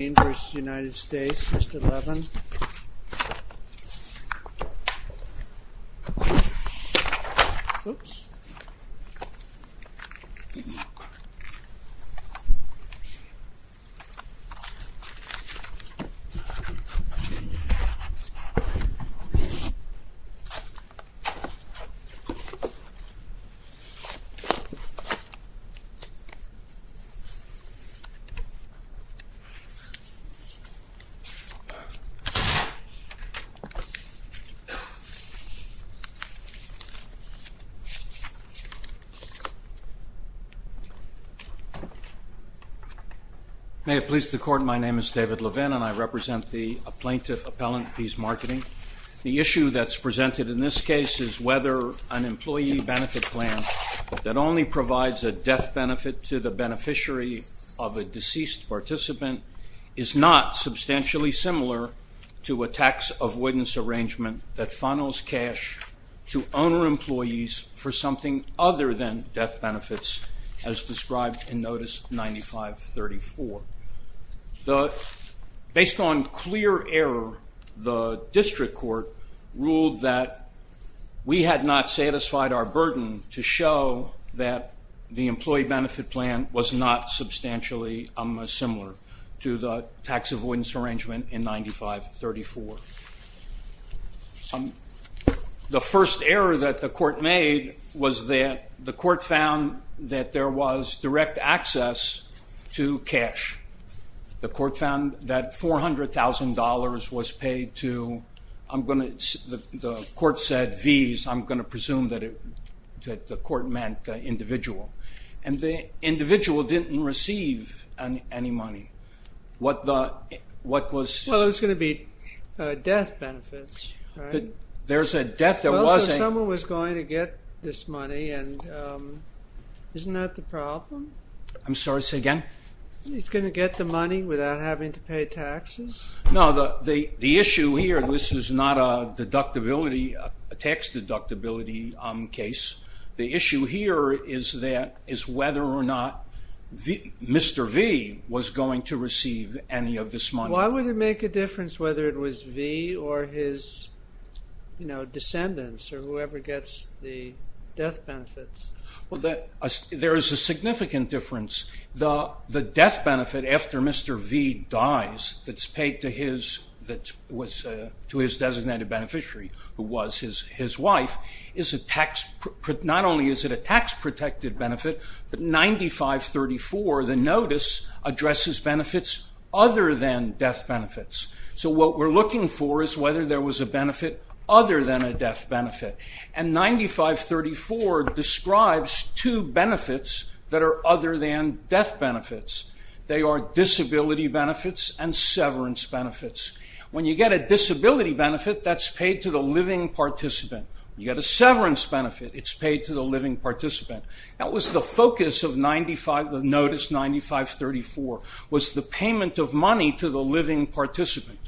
Mr. Levin May it please the Court, my name is David Levin and I represent the plaintiff appellant Vee's Marketing. The issue that's presented in this case is whether an employee benefit plan that only provides a death benefit to the beneficiary of a deceased participant is not substantially similar to a tax avoidance arrangement that funnels cash to owner employees for something other than death benefits as described in Notice 9534. Based on clear error, the District Court ruled that we had not satisfied our burden to show that the employee benefit plan was not substantially similar to the tax avoidance arrangement in 9534. The first error that the Court made was that the Court found that there was direct access to cash. The Court found that $400,000 was paid to, I'm going to, the Court said V's, I'm going to presume that the Court meant the individual. And the individual didn't receive any money. What was... Well, it was going to be death benefits, right? There's a death, there was a... Well, so someone was going to get this money and isn't that the problem? I'm sorry, say again? He's going to get the money without having to pay taxes? No, the issue here, this is not a deductibility, a tax deductibility case. The issue here is that, is whether or not Mr. V was going to receive any of this money. Why would it make a difference whether it was V or his, you know, descendants or whoever gets the death benefits? There is a significant difference. The death benefit after Mr. V dies that's paid to his designated beneficiary, who was his wife, is a tax, not only is it a tax protected benefit, but 9534, the notice, addresses benefits other than death benefits. So what we're looking for is whether there was a benefit other than a death benefit. And 9534 describes two benefits that are other than death benefits. They are disability benefits and severance benefits. When you get a disability benefit, that's paid to the living participant. You get a severance benefit, it's paid to the living participant. That was the focus of 95, the notice 9534, was the payment of money to the living participant.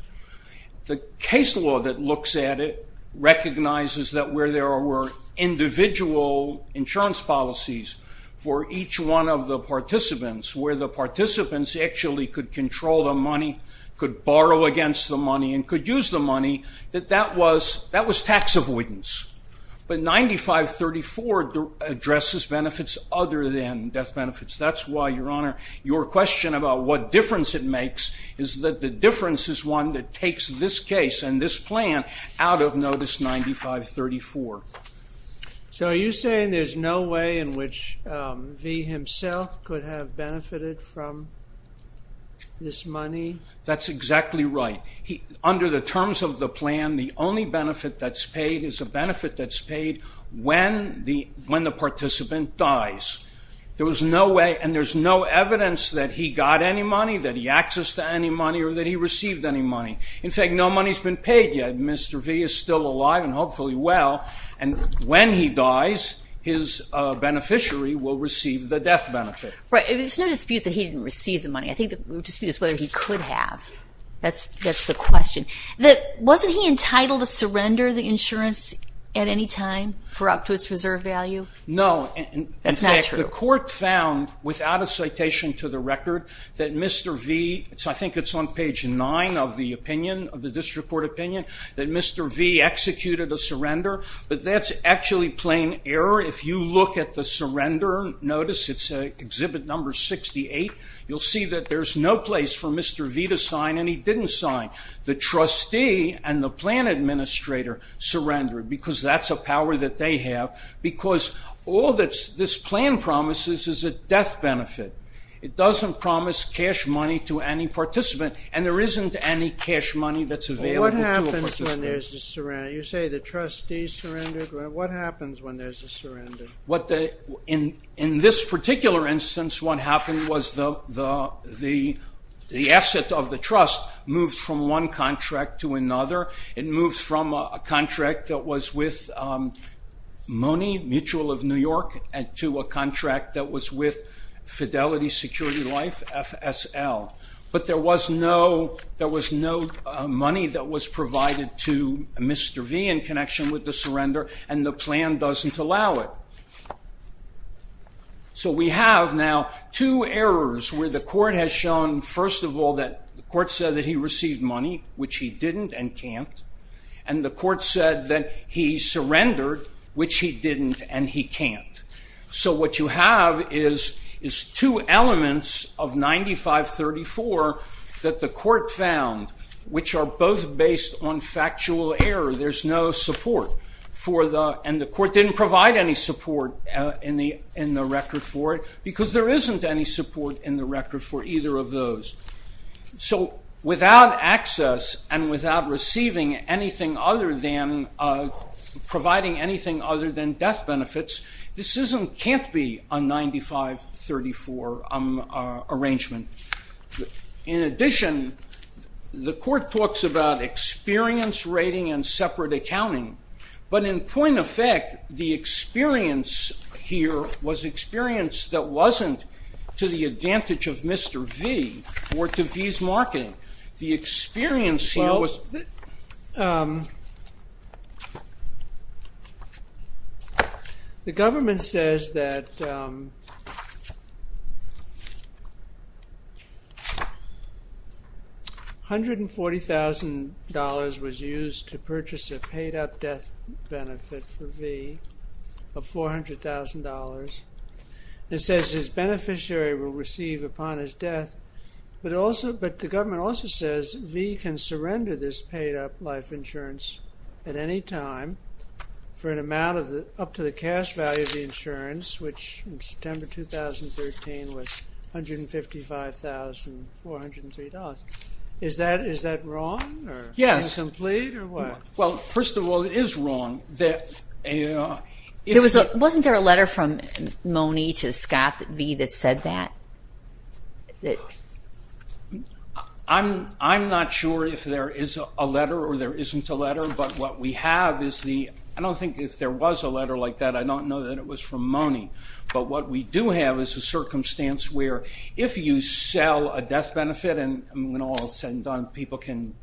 The case law that looks at it recognizes that where there were individual insurance policies for each one of the participants, where the participants actually could control the money, could borrow against the money, and could use the money, that that was tax avoidance. But 9534 addresses benefits other than death benefits. That's why, Your Honor, your question about what difference it makes is that the difference is one that takes this case and this plan out of notice 9534. So are you saying there's no way in which V himself could have benefited from this money? That's exactly right. Under the terms of the plan, the only benefit that's paid is a benefit that's paid when the participant dies. There was no way, and there's no evidence that he got any money, that he accessed any money, or that he received any money. In fact, no money's been paid yet. Mr. V is still alive and hopefully well, and when he dies, his beneficiary will receive the death benefit. Right. There's no dispute that he didn't receive the money. I think the dispute is whether he could have. That's the question. Wasn't he entitled to surrender the insurance at any time for up to its reserve value? No. That's not true. The court found, without a citation to the record, that Mr. V, I think it's on page nine of the opinion, of the district court opinion, that Mr. V executed a surrender, but that's actually plain error. If you look at the surrender notice, it's exhibit number 68, you'll see that there's no place for Mr. V to sign, and he didn't sign. The trustee and the plan administrator surrendered, because that's a power that they have. Because all that this plan promises is a death benefit. It doesn't promise cash money to any participant, and there isn't any cash money that's available to a participant. What happens when there's a surrender? You say the trustees surrendered. What happens when there's a surrender? In this particular instance, what happened was the asset of the trust moved from one contract to another. It moved from a contract that was with Money, Mutual of New York, to a contract that was with Fidelity Security Life, FSL. But there was no money that was provided to Mr. V in connection with the surrender, and the plan doesn't allow it. So we have now two errors where the court has shown, first of all, that the court said that he received money, which he didn't and can't, and the court said that he surrendered, which he didn't and he can't. So what you have is two elements of 9534 that the court found, which are both based on factual error. There's no support for the, and the court didn't provide any support in the record for it, because there isn't any support in the record for either of those. So without access and without receiving anything other than, providing anything other than death benefits, this can't be a 9534 arrangement. In addition, the court talks about experience rating and separate accounting, but in point of fact, the experience here was experience that wasn't to the advantage of Mr. V, or to V's marketing. The experience here was... The government says that $140,000 was used to purchase a paid-up death benefit for V of $400,000. It says his beneficiary will receive upon his death, but also, but the government also says V can surrender this paid-up life insurance at any time for an amount of the, up to the cash value of the insurance, which in September 2013 was $155,403. Is that wrong? Yes. Or incomplete? Or what? Well, first of all, it is wrong. Wasn't there a letter from Mone to Scott V that said that? I'm not sure if there is a letter or there isn't a letter, but what we have is the, I don't think if there was a letter like that, I don't know that it was from Mone, but what we do have is a circumstance where if you sell a death benefit and when all is said and done, people can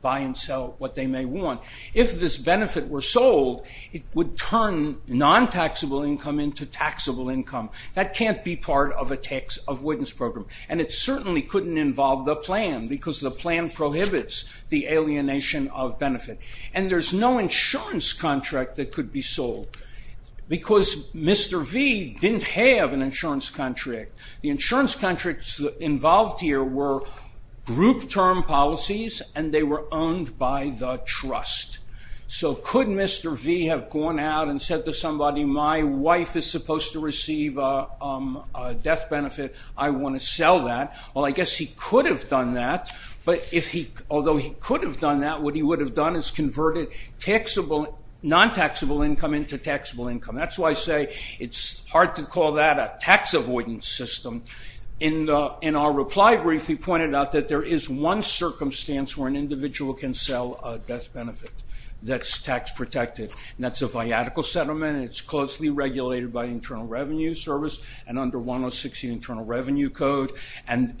buy and sell what they may want. If this benefit were sold, it would turn non-taxable income into taxable income. That can't be part of a tax avoidance program. And it certainly couldn't involve the plan because the plan prohibits the alienation of benefit. And there's no insurance contract that could be sold because Mr. V didn't have an insurance contract. The insurance contracts involved here were group term policies and they were owned by the trust. So could Mr. V have gone out and said to somebody, my wife is supposed to receive a death benefit, I want to sell that. Well, I guess he could have done that, but if he, although he could have done that, what he would have done is converted taxable, non-taxable income into taxable income. That's why I say it's hard to call that a tax avoidance system. In our reply brief, he pointed out that there is one circumstance where an individual can sell a death benefit that's tax protected. That's a viatical settlement, it's closely regulated by Internal Revenue Service and under 106, the Internal Revenue Code, and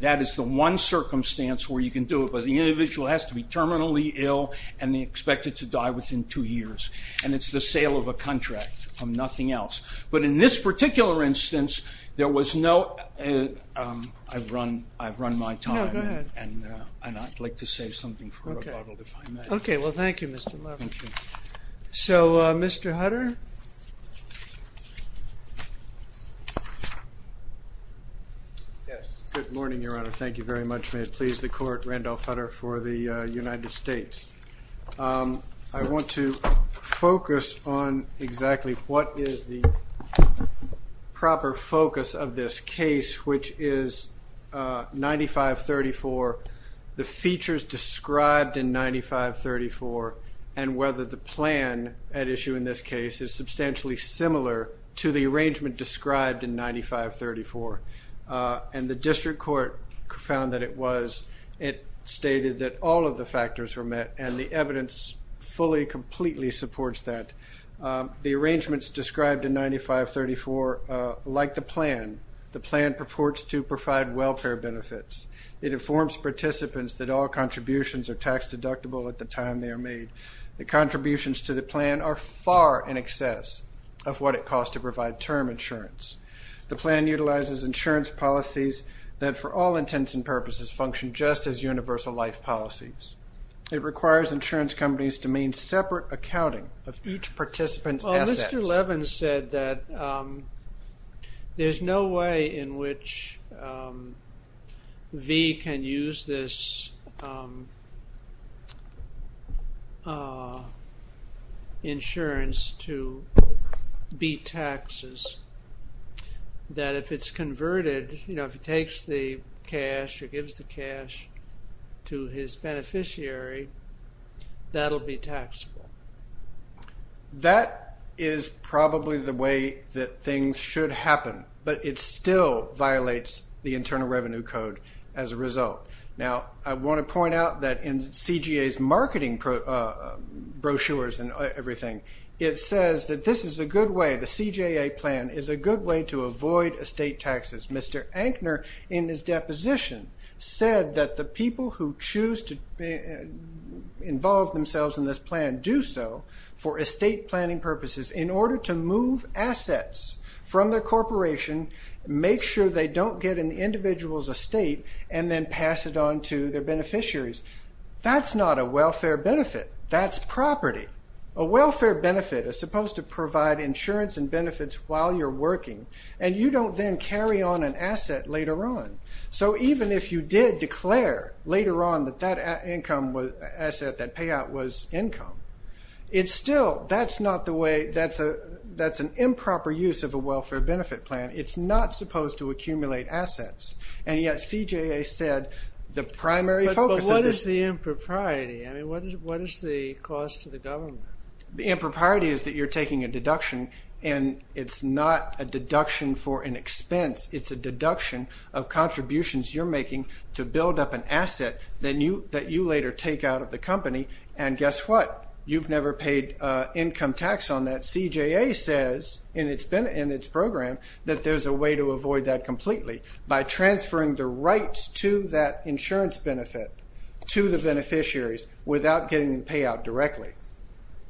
that is the one circumstance where you can do it, but the individual has to be terminally ill and expected to die within two years. And it's the sale of a contract, nothing else. But in this particular instance, there was no, I've run my time and I'd like to save something for a bottle if I may. Okay, well thank you Mr. Marvin. So Mr. Hutter? Yes, good morning Your Honor, thank you very much, may it please the Court, Randolph Hutter for the United States. I want to focus on exactly what is the proper focus of this case, which is 9534, the features described in 9534, and whether the plan at issue in this case is substantially similar to the arrangement described in 9534. And the district court found that it was, it stated that all of the factors were met and the evidence fully, completely supports that. The arrangements described in 9534, like the plan, the plan purports to provide welfare benefits. It informs participants that all contributions are tax deductible at the time they are made. The contributions to the plan are far in excess of what it costs to provide term insurance. The plan utilizes insurance policies that for all intents and purposes function just as universal life policies. It requires insurance companies to main separate accounting of each participant's assets. Mr. Levin said that there's no way in which V can use this insurance to be taxes, that if it's converted, you know, if he takes the cash or gives the cash to his beneficiary, that'll be taxable. That is probably the way that things should happen, but it still violates the Internal Revenue Code as a result. Now, I want to point out that in CJA's marketing brochures and everything, it says that this is a good way, the CJA plan is a good way to avoid estate taxes. Mr. Ankner, in his deposition, said that the people who choose to involve themselves in this plan do so for estate planning purposes in order to move assets from their corporation, make sure they don't get an individual's estate, and then pass it on to their beneficiaries. That's not a welfare benefit. That's property. A welfare benefit is supposed to provide insurance and benefits while you're working, and you don't then carry on an asset later on. So even if you did declare later on that that asset, that payout, was income, it's still, that's not the way, that's an improper use of a welfare benefit plan. It's not supposed to accumulate assets, and yet CJA said the primary focus of this- But what is the impropriety? I mean, what is the cost to the government? The impropriety is that you're taking a deduction, and it's not a deduction for an expense. It's a deduction of contributions you're making to build up an asset that you later take out of the company, and guess what? You've never paid income tax on that. CJA says in its program that there's a way to avoid that completely by transferring the rights to that insurance benefit to the beneficiaries without getting the payout directly.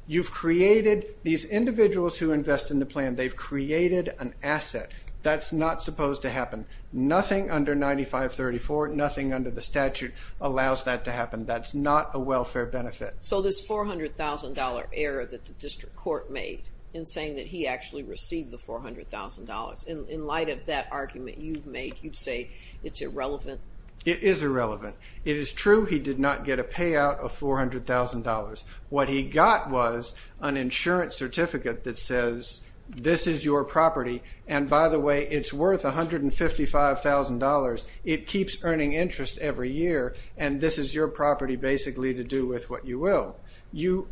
You've created, these individuals who invest in the plan, they've created an asset. That's not supposed to happen. Nothing under 9534, nothing under the statute allows that to happen. That's not a welfare benefit. So this $400,000 error that the district court made in saying that he actually received the $400,000, in light of that argument you've made, you'd say it's irrelevant? It is irrelevant. It is true he did not get a payout of $400,000. What he got was an insurance certificate that says this is your property, and by the way, it's worth $155,000. It keeps earning interest every year, and this is your property basically to do with what you will. You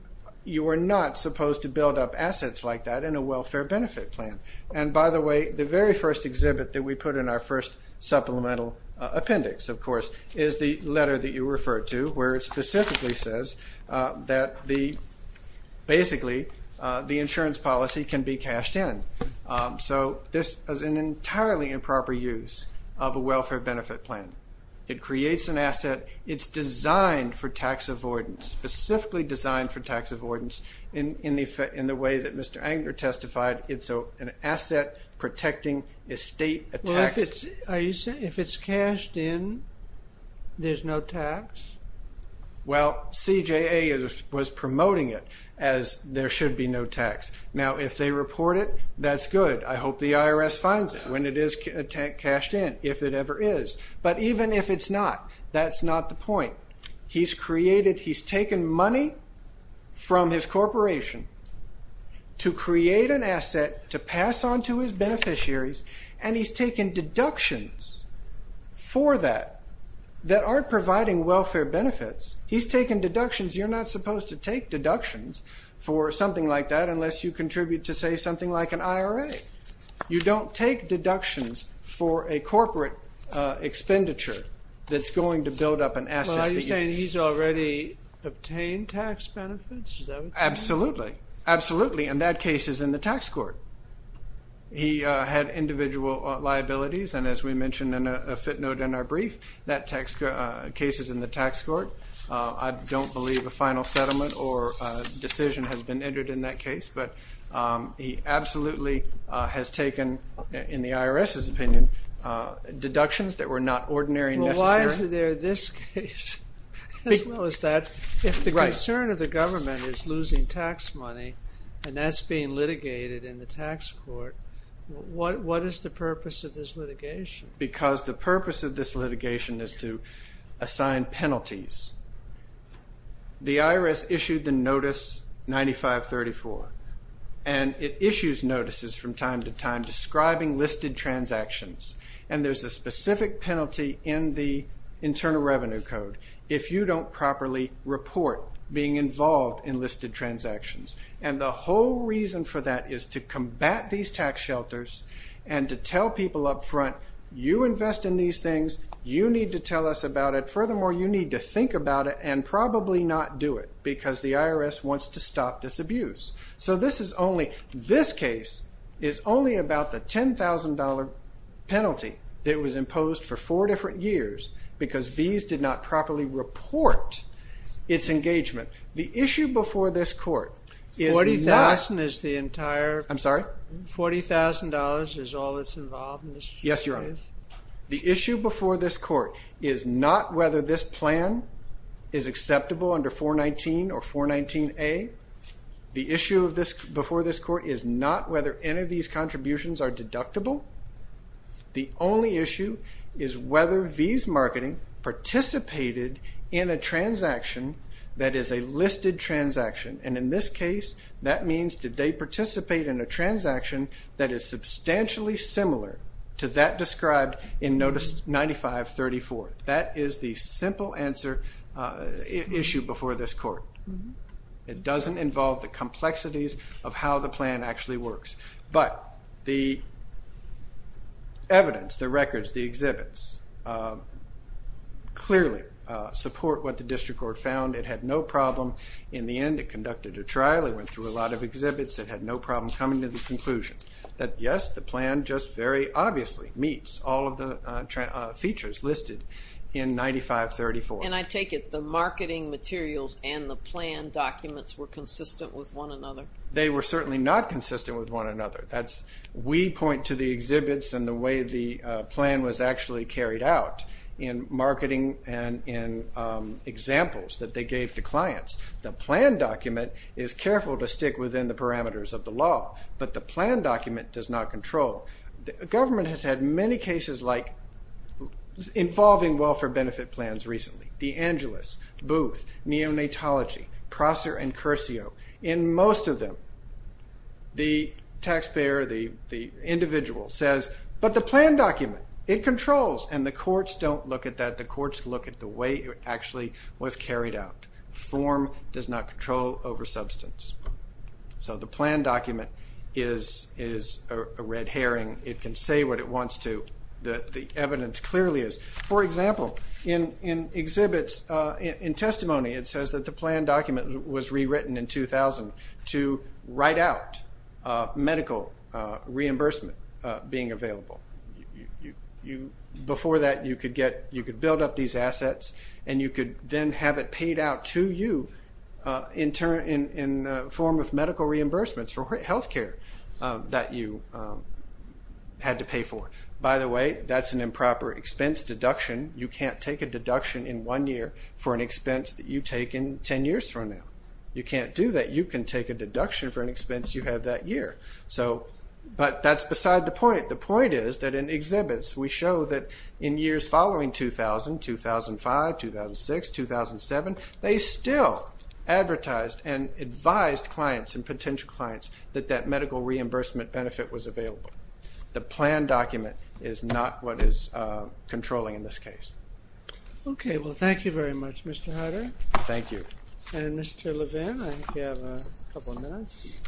are not supposed to build up assets like that in a welfare benefit plan. And by the way, the very first exhibit that we put in our first supplemental appendix, of course, is the letter that you referred to, where it specifically says that the, basically, the insurance policy can be cashed in. So this is an entirely improper use of a welfare benefit plan. It creates an asset. It's designed for tax avoidance, specifically designed for tax avoidance, in the way that Mr. Anger testified. It's an asset protecting a state, a tax. Are you saying if it's cashed in, there's no tax? Well, CJA was promoting it as there should be no tax. Now, if they report it, that's good. I hope the IRS finds it when it is cashed in, if it ever is. But even if it's not, that's not the point. He's created, he's taken money from his corporation to create an asset to pass on to his beneficiaries, and he's taken deductions for that, that aren't providing welfare benefits. He's taken deductions. You're not supposed to take deductions for something like that, unless you contribute to, say, something like an IRA. You don't take deductions for a corporate expenditure that's going to build up an asset. Well, are you saying he's already obtained tax benefits? Is that what you're saying? Absolutely. Absolutely, and that case is in the tax court. He had individual liabilities, and as we mentioned in a footnote in our brief, that case is in the tax court. I don't believe a final settlement or decision has been entered in that case, but he absolutely has taken, in the IRS's opinion, deductions that were not ordinary and necessary. Well, why is there this case, as well as that, if the concern of the government is losing tax money, and that's being litigated in the tax court, what is the purpose of this litigation? Because the purpose of this litigation is to assign penalties. The IRS issued the Notice 9534, and it issues notices from time to time, describing listed transactions, and there's a specific penalty in the Internal Revenue Code. If you don't properly report being involved in listed transactions, and the whole reason for that is to combat these tax shelters, and to tell people up front, you invest in these things, you need to tell us about it. Furthermore, you need to think about it, and probably not do it, because the IRS wants to stop this abuse. So this is only, this case is only about the $10,000 penalty that was imposed for four different years, because V's did not properly report its engagement. The issue before this court is not... $40,000 is the entire... I'm sorry? $40,000 is all that's involved in this case? Yes, Your Honor. The issue before this court is not whether this plan is acceptable under 419 or 419A. The issue before this court is not whether any of these contributions are deductible. The only issue is whether V's Marketing participated in a transaction that is a listed transaction, and in this case, that means did they participate in a transaction that is substantially similar to that described in Notice 9534. That is the simple answer, issue before this court. It doesn't involve the complexities of how the plan actually works. But the evidence, the records, the exhibits, clearly support what the District Court found. It had no problem in the end. It conducted a trial. It went through a lot of exhibits. It had no problem coming to the conclusion that, yes, the plan just very obviously meets all of the features listed in 9534. And I take it the marketing materials and the plan documents were consistent with one another? They were certainly not consistent with one another. That's, we point to the exhibits and the way the plan was actually carried out in marketing and in examples that they gave to clients. The plan document is careful to stick within the parameters of the law, but the plan document does not control. The government has had many cases like involving welfare benefit plans recently. The Angelus, Booth, Neonatology, Prosser and Curcio. In most of them, the taxpayer, the individual says, but the plan document, it controls. And the courts don't look at that. The courts look at the way it actually was carried out. Form does not control over substance. So the plan document is a red herring. It can say what it wants to. The evidence clearly is. For example, in exhibits, in testimony, it says that the plan document was rewritten in 2000 to write out medical reimbursement being available. You, before that, you could get, you could build up these assets and you could then have it paid out to you in term, in form of medical reimbursements for health care that you had to pay for. By the way, that's an improper expense deduction. You can't take a deduction in one year for an expense that you take in 10 years from now. You can't do that. You can take a deduction for an expense you have that year. So, but that's beside the point. The point is that in exhibits, we show that in years following 2000, 2005, 2006, 2007, they still advertised and advised clients and potential clients that that medical reimbursement benefit was available. The plan document is not what is controlling in this case. Okay. Well, thank you very much, Mr. Hunter. Thank you. And Mr. Levin, I think you have a couple of minutes.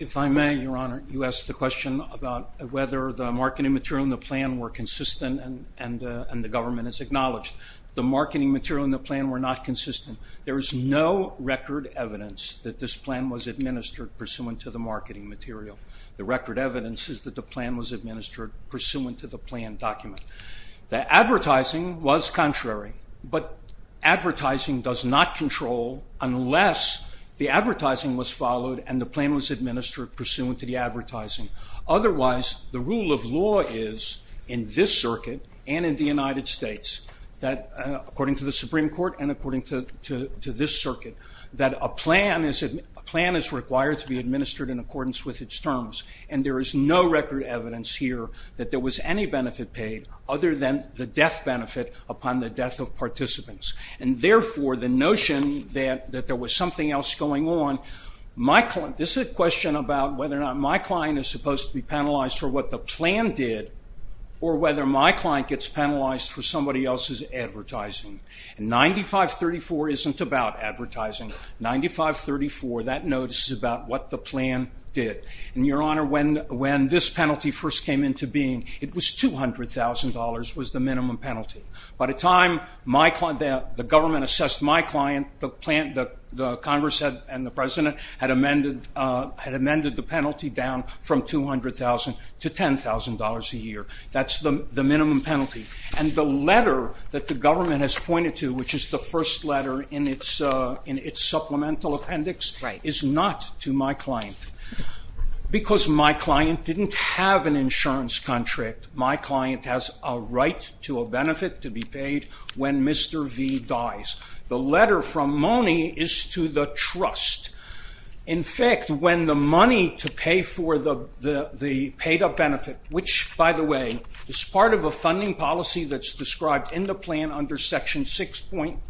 If I may, Your Honor, you asked the question about whether the marketing material and the plan were consistent and the government has acknowledged. The marketing material and the plan were not consistent. There is no record evidence that this plan was administered pursuant to the marketing material. The record evidence is that the plan was administered pursuant to the plan document. The advertising was contrary, but advertising does not control unless the advertising was followed and the plan was administered pursuant to the advertising. Otherwise, the rule of law is, in this circuit and in the United States, that according to the Supreme Court and according to this circuit, that a plan is required to be administered in accordance with its terms. And there is no record evidence here that there was any benefit paid other than the death benefit upon the death of participants. And therefore, the notion that there was something else going on, my client, this is a question about whether or not my client is supposed to be penalized for what the plan did or whether my client gets penalized for somebody else's advertising. And 9534 isn't about advertising. 9534, that notice is about what the plan did. And Your Honor, when this penalty first came into being, it was $200,000 was the minimum penalty. By the time the government assessed my client, the Congress and the President had amended the penalty down from $200,000 to $10,000 a year. That's the minimum penalty. And the letter that the government has pointed to, which is the first letter in its supplemental appendix, is not to my client. Because my client didn't have an insurance contract. My client has a right to a benefit to be paid when Mr. V dies. The letter from Mone is to the trust. In fact, when the money to pay for the paid-up benefit, which, by the way, is part of a funding policy that's described in the plan under Section 6.1.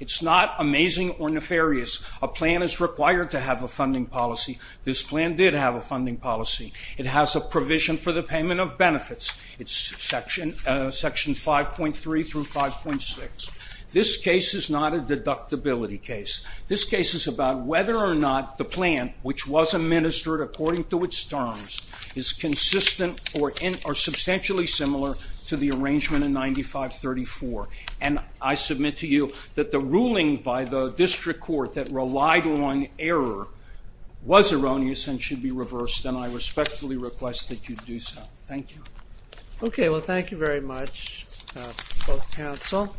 It's not amazing or nefarious. A plan is required to have a funding policy. This plan did have a funding policy. It has a provision for the payment of benefits. It's Section 5.3 through 5.6. This case is not a deductibility case. This case is about whether or not the plan, which was administered according to its terms, is consistent or substantially similar to the arrangement in 9534. And I submit to you that the ruling by the district court that relied on error was erroneous and should be reversed. And I respectfully request that you do so. Thank you. Okay. Well, thank you very much, both counsel.